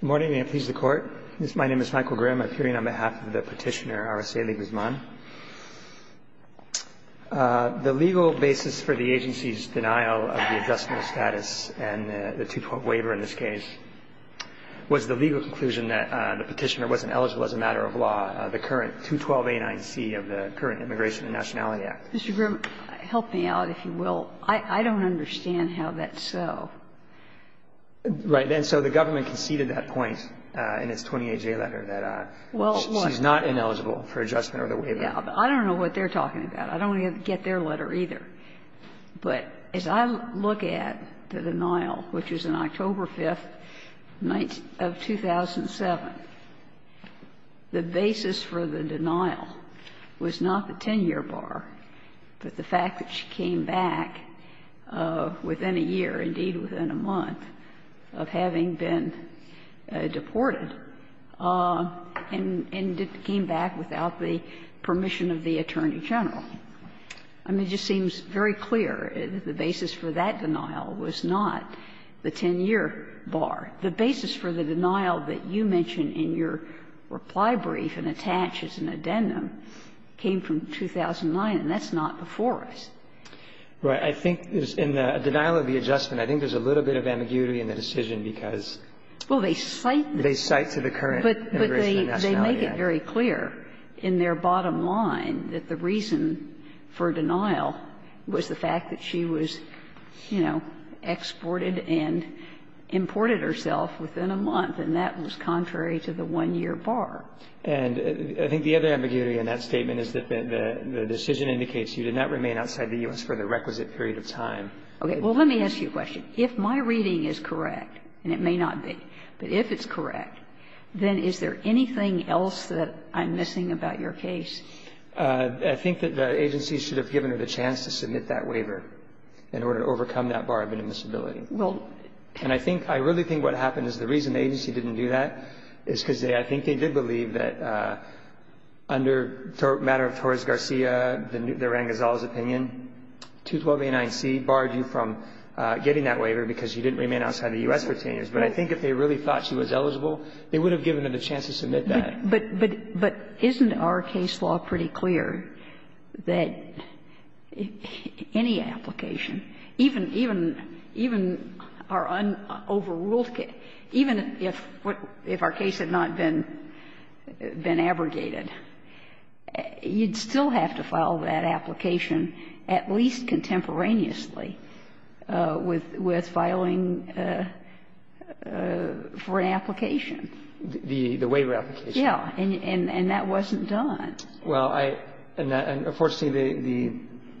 Good morning, and may it please the Court. My name is Michael Grimm. I'm appearing on behalf of the Petitioner, R. S. A. Lee Guzman. The legal basis for the agency's denial of the Adjustment of Status and the 212 waiver in this case was the legal conclusion that the Petitioner wasn't eligible as a matter of law, the current 212A9C of the current Immigration and Nationality Act. Mr. Grimm, help me out, if you will. I don't understand how that's so. Right. And so the government conceded that point in its 28-J letter that she's not ineligible for Adjustment or the waiver. Well, I don't know what they're talking about. I don't get their letter either. But as I look at the denial, which was on October 5th of 2007, the basis for the denial was not the 10-year bar, but the fact that she came back within a year, indeed within a month, of having been deported and came back without the permission of the Attorney General. I mean, it just seems very clear that the basis for that denial was not the 10-year bar. The basis for the denial that you mention in your reply brief and attach as an addendum came from 2009, and that's not before us. Right. I think in the denial of the Adjustment, I think there's a little bit of ambiguity in the decision because they cite to the current Immigration and Nationality Act. But they make it very clear in their bottom line that the reason for denial was the 10-year bar was not the 10-year bar, but the fact that she came back within a month General. And that was contrary to the one-year bar. And I think the other ambiguity in that statement is that the decision indicates you did not remain outside the U.S. for the requisite period of time. Okay. Well, let me ask you a question. If my reading is correct, and it may not be, but if it's correct, then is there anything else that I'm missing about your case? I think that the agency should have given her the chance to submit that waiver in order to overcome that bar of inadmissibility. Well, can I think – I really think what happened is the reason the agency didn't do that is because I think they did believe that under the matter of Torres Garcia, the Rangazzola's opinion, 212a9c barred you from getting that waiver because you didn't remain outside the U.S. for 10 years. But I think if they really thought she was eligible, they would have given her the chance to submit that. But isn't our case law pretty clear that any application, even our overruled case, even if our case had not been abrogated, you'd still have to file a waiver to file that application, at least contemporaneously, with filing for an application? The waiver application. Yeah. And that wasn't done. Well, I – and unfortunately, the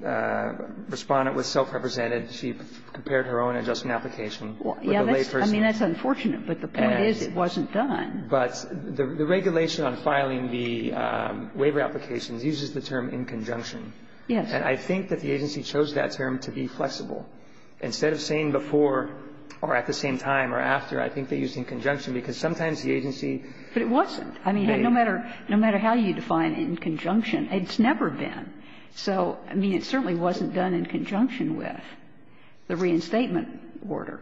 Respondent was self-represented. She prepared her own adjustment application with a lay person. I mean, that's unfortunate, but the point is it wasn't done. But the regulation on filing the waiver applications uses the term in conjunction. Yes. And I think that the agency chose that term to be flexible. Instead of saying before or at the same time or after, I think they used in conjunction, because sometimes the agency – But it wasn't. I mean, no matter – no matter how you define in conjunction, it's never been. So, I mean, it certainly wasn't done in conjunction with the reinstatement order.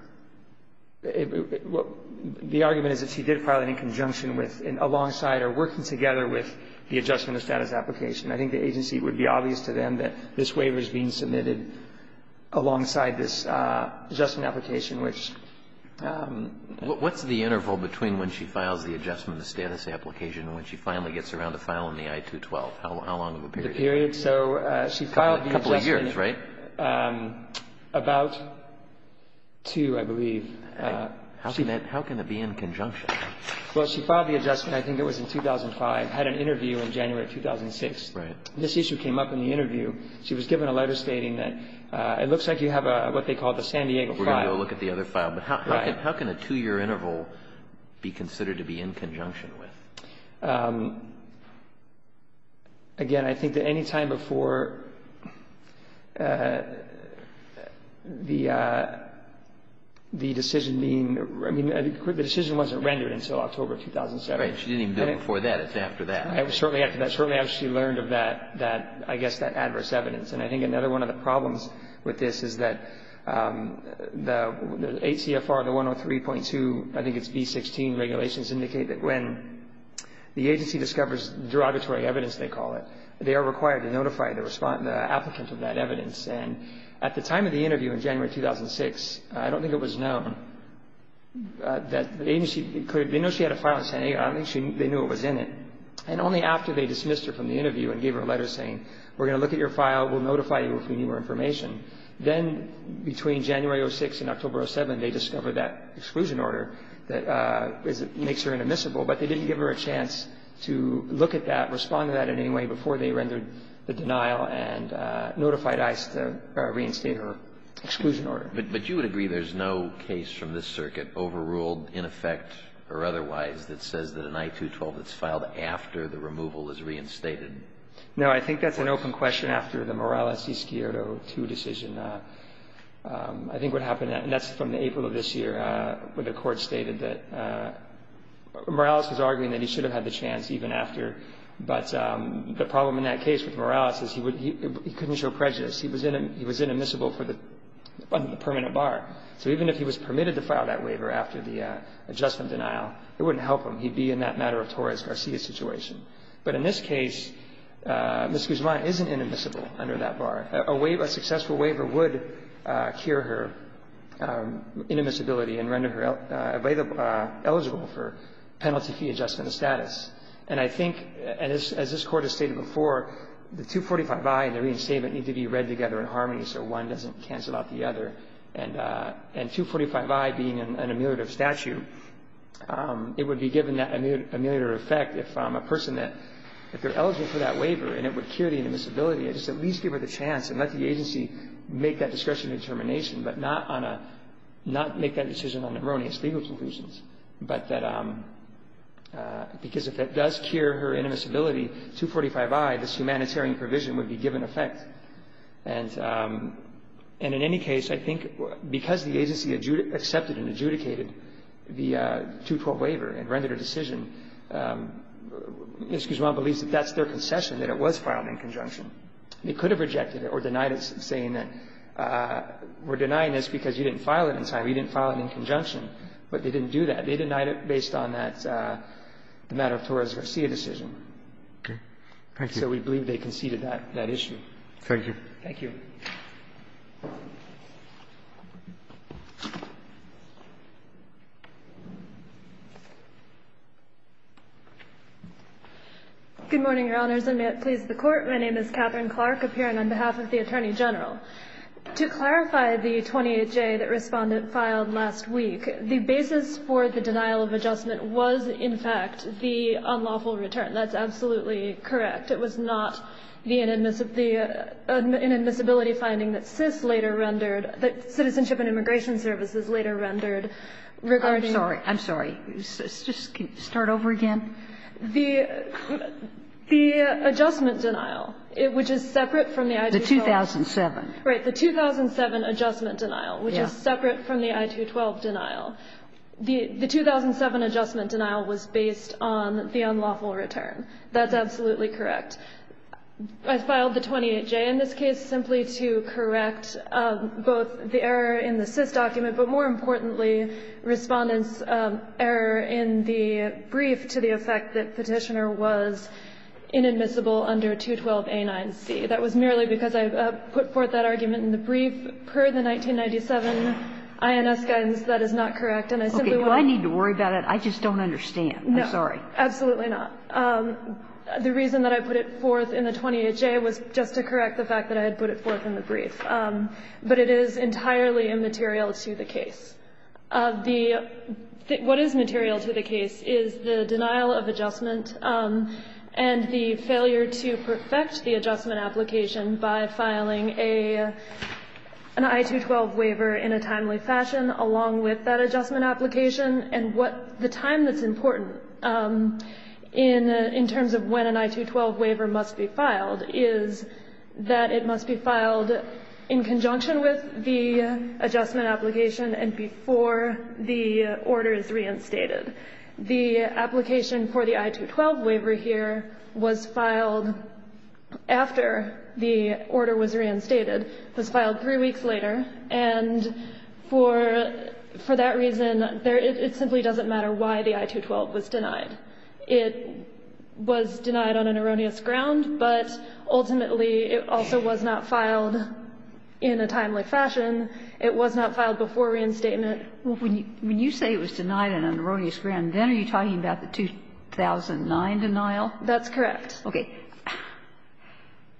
The argument is that she did file it in conjunction with, alongside or working together with the adjustment of status application. I think the agency, it would be obvious to them that this waiver is being submitted alongside this adjustment application, which – What's the interval between when she files the adjustment of status application and when she finally gets around to filing the I-212? How long of a period? The period? So she filed the adjustment – A couple of years, right? About two, I believe. How can that – how can it be in conjunction? Well, she filed the adjustment, I think it was in 2005, had an interview in January of 2006. Right. This issue came up in the interview. She was given a letter stating that it looks like you have what they call the San Diego file. We're going to go look at the other file. But how can a two-year interval be considered to be in conjunction with? Again, I think that any time before the decision being – I mean, the decision wasn't rendered until October 2007. Right. She didn't even do it before that. It's after that. It was certainly after that. It was certainly after she learned of that, I guess, that adverse evidence. And I think another one of the problems with this is that the ATFR, the 103.2, I think it's B-16 regulations indicate that when the agency discovers derogatory evidence, they call it, they are required to notify the applicant of that evidence. And at the time of the interview in January 2006, I don't think it was known that the agency – they know she had a file in San Diego. I don't think they knew it was in it. And only after they dismissed her from the interview and gave her a letter saying, we're going to look at your file. We'll notify you if we need more information. Then between January 2006 and October 2007, they discovered that exclusion order that makes her inadmissible, but they didn't give her a chance to look at that, respond to that in any way before they rendered the denial and notified ICE to reinstate her exclusion order. But you would agree there's no case from this circuit overruled in effect or otherwise that says that an I-212 that's filed after the removal is reinstated? No, I think that's an open question after the Morales-Escuero II decision. I think what happened – and that's from April of this year when the Court stated that – Morales was arguing that he should have had the chance even after. But the problem in that case with Morales is he couldn't show prejudice. He was inadmissible for the permanent bar. So even if he was permitted to file that waiver after the adjustment denial, it wouldn't help him. He'd be in that matter of Torres-Garcia situation. But in this case, Ms. Guzman isn't inadmissible under that bar. A successful waiver would cure her inadmissibility and render her eligible for penalty fee adjustment status. And I think, as this Court has stated before, the 245i and the reinstatement need to be read together in harmony so one doesn't cancel out the other. And 245i being an ameliorative statute, it would be given that ameliorative effect if a person that – if they're eligible for that waiver and it would cure the inadmissibility, I'd just at least give her the chance and let the agency make that discretionary determination, but not on a – not make that decision on erroneous legal conclusions, but that – because if it does cure her inadmissibility, 245i, this humanitarian provision would be given effect. And in any case, I think because the agency accepted and adjudicated the 212 waiver and Ms. Guzman believes that that's their concession, that it was filed in conjunction. They could have rejected it or denied it, saying that we're denying this because you didn't file it in time, you didn't file it in conjunction. But they didn't do that. They denied it based on that – the matter of Torres-Garcia decision. So we believe they conceded that issue. Thank you. Thank you. Good morning, Your Honors, and may it please the Court. My name is Catherine Clark, appearing on behalf of the Attorney General. To clarify the 28J that Respondent filed last week, the basis for the denial of adjustment was, in fact, the unlawful return. That's absolutely correct. It was not the inadmissibility finding that CIS later rendered – that Citizenship and Immigration Services later rendered regarding – I'm sorry. I'm sorry. Just start over again. The adjustment denial, which is separate from the I-212 – The 2007. Right. The 2007 adjustment denial, which is separate from the I-212 denial. The 2007 adjustment denial was based on the unlawful return. That's absolutely correct. I filed the 28J in this case simply to correct both the error in the CIS document, but more importantly, Respondent's error in the brief to the effect that Petitioner was inadmissible under 212A9C. That was merely because I put forth that argument in the brief. Per the 1997 INS guidance, that is not correct, and I simply want to – Okay. Do I need to worry about it? I just don't understand. I'm sorry. No. Absolutely not. The reason that I put it forth in the 28J was just to correct the fact that I had put it forth in the brief, but it is entirely immaterial to the case. What is material to the case is the denial of adjustment and the failure to perfect the adjustment application by filing an I-212 waiver in a timely fashion along with that adjustment application and what – the time that's important in terms of when an I-212 waiver must be filed is that it must be filed in conjunction with the adjustment application and before the order is reinstated. The application for the I-212 waiver here was filed after the order was reinstated. It was filed three weeks later, and for that reason, it simply doesn't matter why the I-212 was denied. It was denied on an erroneous ground, but ultimately it also was not filed in a timely fashion. It was not filed before reinstatement. When you say it was denied on an erroneous ground, then are you talking about the 2009 denial? That's correct. Okay.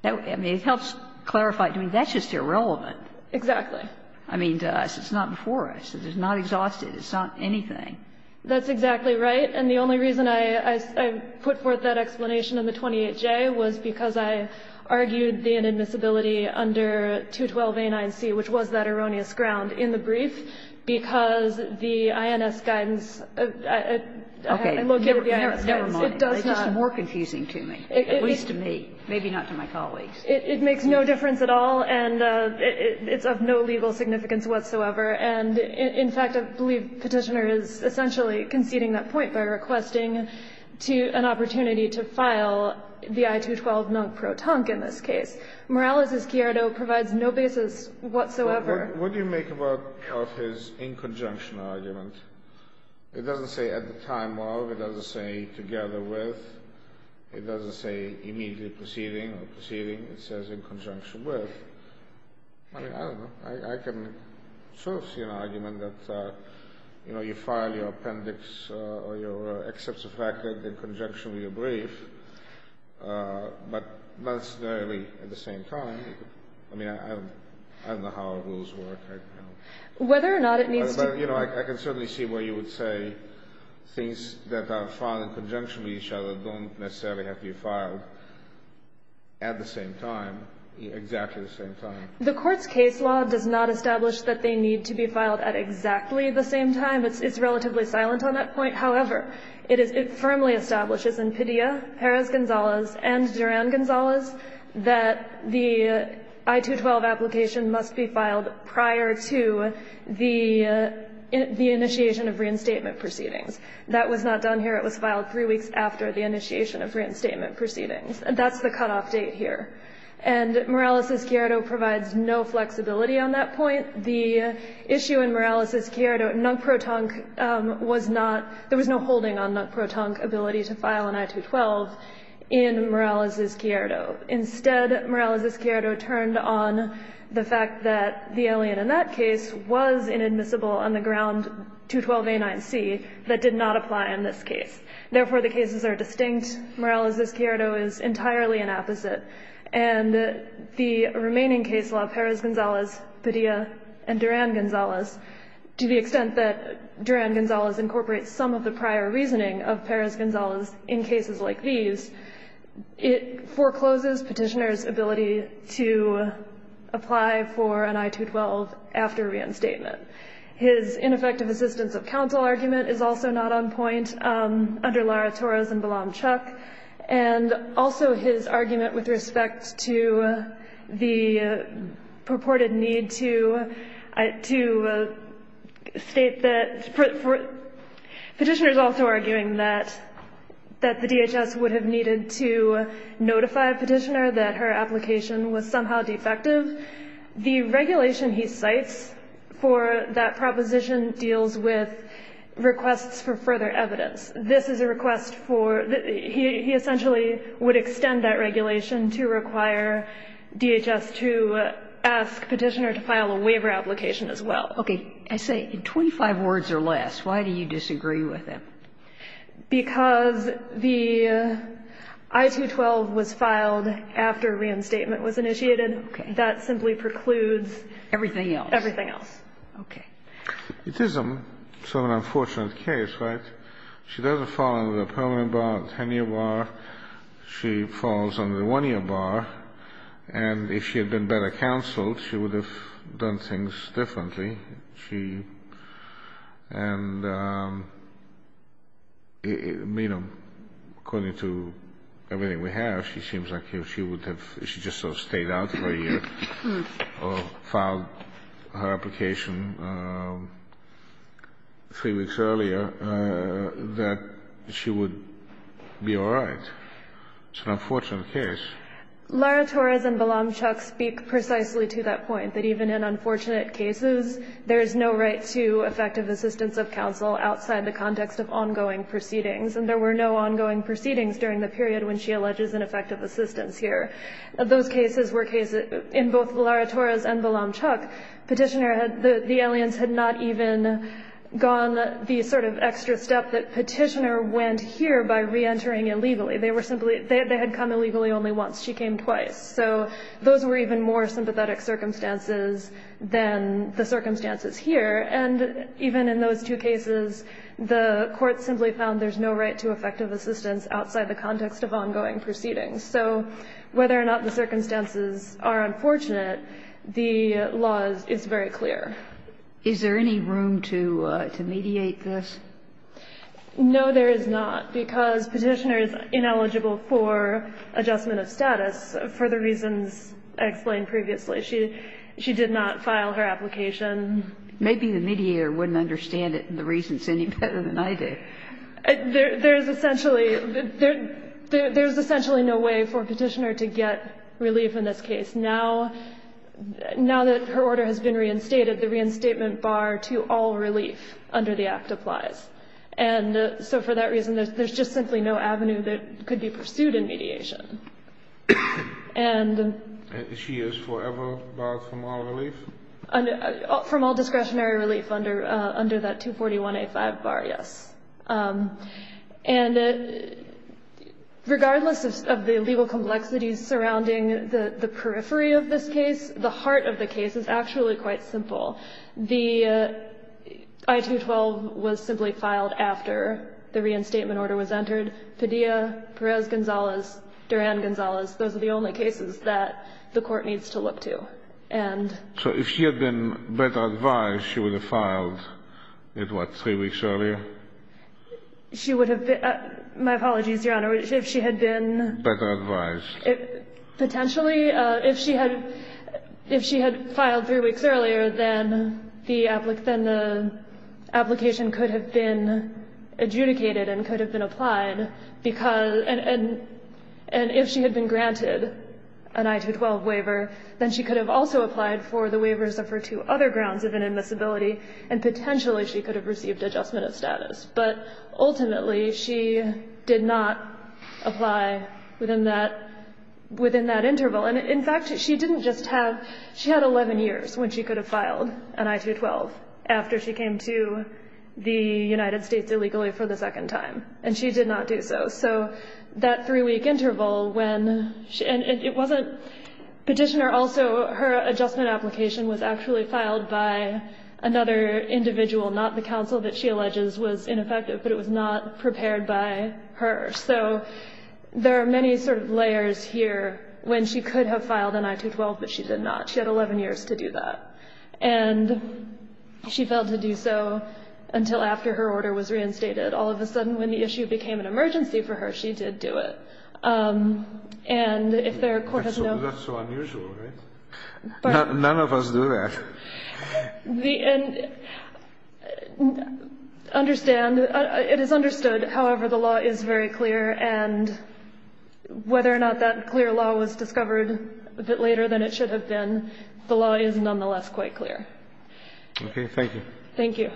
I mean, it helps clarify. I mean, that's just irrelevant. Exactly. I mean, it's not before us. It's not exhausted. It's not anything. That's exactly right. And the only reason I put forth that explanation in the 28J was because I argued the inadmissibility under 212a9c, which was that erroneous ground, in the brief, because the INS guidance, located in the INS guidance, it does not. Okay. Never mind. It's just more confusing to me, at least to me. Maybe not to my colleagues. It makes no difference at all, and it's of no legal significance whatsoever. And, in fact, I believe Petitioner is essentially conceding that point by requesting an opportunity to file the I-212 non-protonc in this case. Morales' chiaro provides no basis whatsoever. What do you make of his in conjunction argument? It doesn't say at the time of. It doesn't say together with. It doesn't say immediately proceeding or proceeding. It says in conjunction with. I mean, I don't know. I can sort of see an argument that, you know, you file your appendix or your excepts of record in conjunction with your brief, but not necessarily at the same time. I mean, I don't know how rules work. Whether or not it needs to be. But, you know, I can certainly see where you would say things that are filed in conjunction with each other don't necessarily have to be filed at the same time, exactly the same time. The Court's case law does not establish that they need to be filed at exactly the same time. It's relatively silent on that point. However, it firmly establishes in Padilla, Perez-Gonzalez, and Duran-Gonzalez that the I-212 application must be filed prior to the initiation of reinstatement proceedings. That was not done here. It was filed three weeks after the initiation of reinstatement proceedings. That's the cutoff date here. And Morales'-Chiarido provides no flexibility on that point. The issue in Morales'-Chiarido, Nuc-Pro-Tonc was not, there was no holding on Nuc-Pro-Tonc ability to file an I-212 in Morales'-Chiarido. Instead, Morales'-Chiarido turned on the fact that the alien in that case was inadmissible on the ground 212a9c that did not apply in this case. Therefore, the cases are distinct. Morales'-Chiarido is entirely an opposite. And the remaining case law, Perez-Gonzalez, Padilla, and Duran-Gonzalez, to the extent that Duran-Gonzalez incorporates some of the prior reasoning of Perez-Gonzalez in cases like these, it forecloses Petitioner's ability to apply for an I-212 after reinstatement. His ineffective assistance of counsel argument is also not on point under Lara-Torres and Balam-Chuck. And also his argument with respect to the purported need to state that, Petitioner's also arguing that the DHS would have needed to notify Petitioner that her application was somehow defective. The regulation he cites for that proposition deals with requests for further evidence. This is a request for the he essentially would extend that regulation to require DHS to ask Petitioner to file a waiver application as well. Okay. I say in 25 words or less, why do you disagree with him? Because the I-212 was filed after reinstatement was initiated. Okay. And that simply precludes everything else. Everything else. Okay. It is an unfortunate case, right? She doesn't fall under the permanent bar, the 10-year bar. She falls under the one-year bar. And if she had been better counseled, she would have done things differently. She and, you know, according to everything we have, she seems like she would have stayed out for a year or filed her application three weeks earlier, that she would be all right. It's an unfortunate case. Laura Torres and Balamchuk speak precisely to that point, that even in unfortunate cases, there is no right to effective assistance of counsel outside the context of ongoing proceedings. And there were no ongoing proceedings during the period when she alleges an effective assistance here. Those cases were cases, in both Laura Torres and Balamchuk, Petitioner had, the aliens had not even gone the sort of extra step that Petitioner went here by reentering illegally. They were simply, they had come illegally only once. She came twice. So those were even more sympathetic circumstances than the circumstances here. And even in those two cases, the court simply found there's no right to effective assistance outside the context of ongoing proceedings. So whether or not the circumstances are unfortunate, the law is very clear. Is there any room to mediate this? No, there is not, because Petitioner is ineligible for adjustment of status for the reasons I explained previously. She did not file her application. Maybe the mediator wouldn't understand it and the reasons any better than I do. There's essentially no way for Petitioner to get relief in this case. Now that her order has been reinstated, the reinstatement bar to all relief under the Act applies. And so for that reason, there's just simply no avenue that could be pursued in mediation. And she is forever barred from all relief? From all discretionary relief under that 241A5 bar, yes. And regardless of the legal complexities surrounding the periphery of this case, the heart of the case is actually quite simple. The I-212 was simply filed after the reinstatement order was entered. Padilla, Perez-Gonzalez, Duran-Gonzalez, those are the only cases that the court needs to look to. And so if she had been better advised, she would have filed it, what, three weeks earlier? She would have been, my apologies, Your Honor, if she had been better advised. Potentially, if she had filed three weeks earlier, then the application could have been adjudicated and could have been applied. And if she had been granted an I-212 waiver, then she could have also applied for the waivers of her two other grounds of inadmissibility, and potentially she could have received adjustment of status. But ultimately, she did not apply within that interval. And in fact, she didn't just have, she had 11 years when she could have filed an I-212 after she came to the United States illegally for the second time. And she did not do so. So that three-week interval when, and it wasn't, Petitioner also, her adjustment application was actually filed by another individual, not the counsel that she alleges was ineffective, but it was not prepared by her. So there are many sort of layers here when she could have filed an I-212, but she did not. She had 11 years to do that. And she failed to do so until after her order was reinstated. All of a sudden, when the issue became an emergency for her, she did do it. And if there are court has no... None of us do that. And understand, it is understood, however, the law is very clear. And whether or not that clear law was discovered a bit later than it should have been, the law is nonetheless quite clear. Okay. Thank you. Thank you.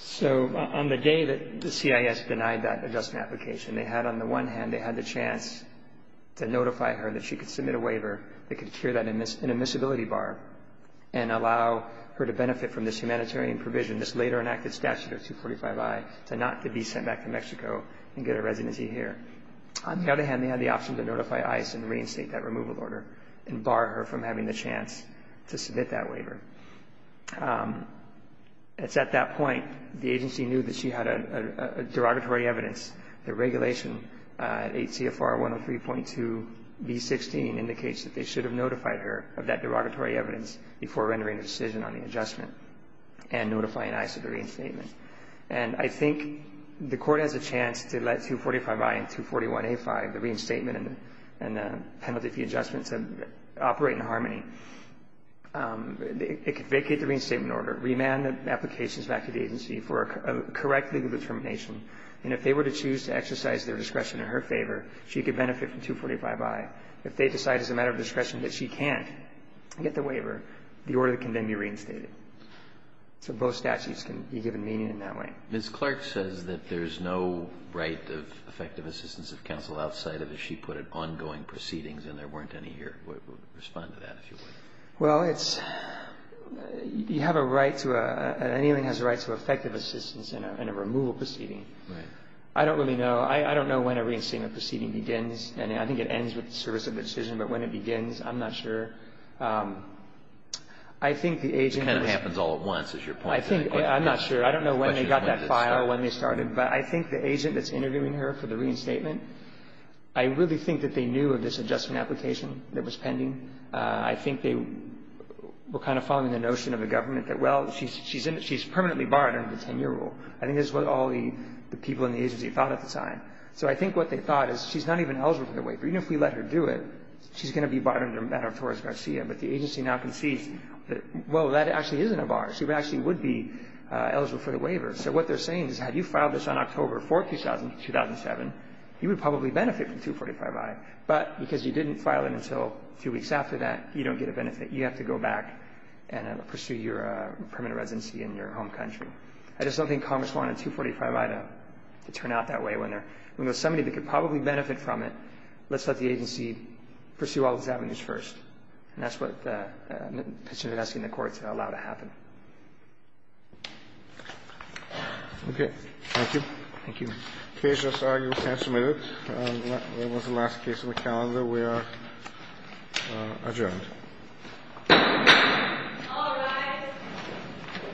So on the day that the CIS denied that adjustment application, they had, on the one hand, they had the chance to notify her that she could submit a waiver that could clear that inadmissibility bar and allow her to benefit from this humanitarian provision, this later enacted statute of 245I, to not to be sent back to Mexico and get a residency here. On the other hand, they had the option to notify ICE and reinstate that removal order and bar her from having the chance to submit that waiver. It's at that point the agency knew that she had a derogatory evidence. The regulation, 8 CFR 103.2B16, indicates that they should have notified her of that derogatory evidence before rendering a decision on the adjustment and notifying ICE of the reinstatement. And I think the Court has a chance to let 245I and 241A5, the reinstatement and the penalty fee adjustment, to operate in harmony. It could vacate the reinstatement order, remand the applications back to the agency for a correct legal determination, and if they were to choose to exercise their discretion in her favor, she could benefit from 245I. If they decide as a matter of discretion that she can't get the waiver, the order can then be reinstated. So both statutes can be given meaning in that way. Ms. Clark says that there's no right of effective assistance of counsel outside of, as she put it, ongoing proceedings, and there weren't any here. Respond to that, if you would. Well, it's, you have a right to a, an inmate has a right to effective assistance in a removal proceeding. Right. I don't really know. I don't know when a reinstatement proceeding begins, and I think it ends with the service of the decision, but when it begins, I'm not sure. I think the agent. It kind of happens all at once, is your point. I think, I'm not sure. I don't know when they got that file, when they started, but I think the agent that's interviewing her for the reinstatement, I really think that they knew of this adjustment application that was pending. I think they were kind of following the notion of the government that, well, she's permanently barred under the 10-year rule. I think that's what all the people in the agency thought at the time. So I think what they thought is she's not even eligible for the waiver. Even if we let her do it, she's going to be barred under Maddow-Torres-Garcia, but the agency now concedes that, well, that actually isn't a bar. She actually would be eligible for the waiver. So what they're saying is had you filed this on October 4th, 2007, you would probably benefit from 245i. But because you didn't file it until a few weeks after that, you don't get a benefit. You have to go back and pursue your permanent residency in your home country. I just don't think Congress wanted 245i to turn out that way. When there's somebody that could probably benefit from it, let's let the agency pursue all these avenues first. And that's what the petitioner is asking the court to allow to happen. Okay. Thank you. Thank you. The case is argued and submitted. That was the last case on the calendar. We are adjourned.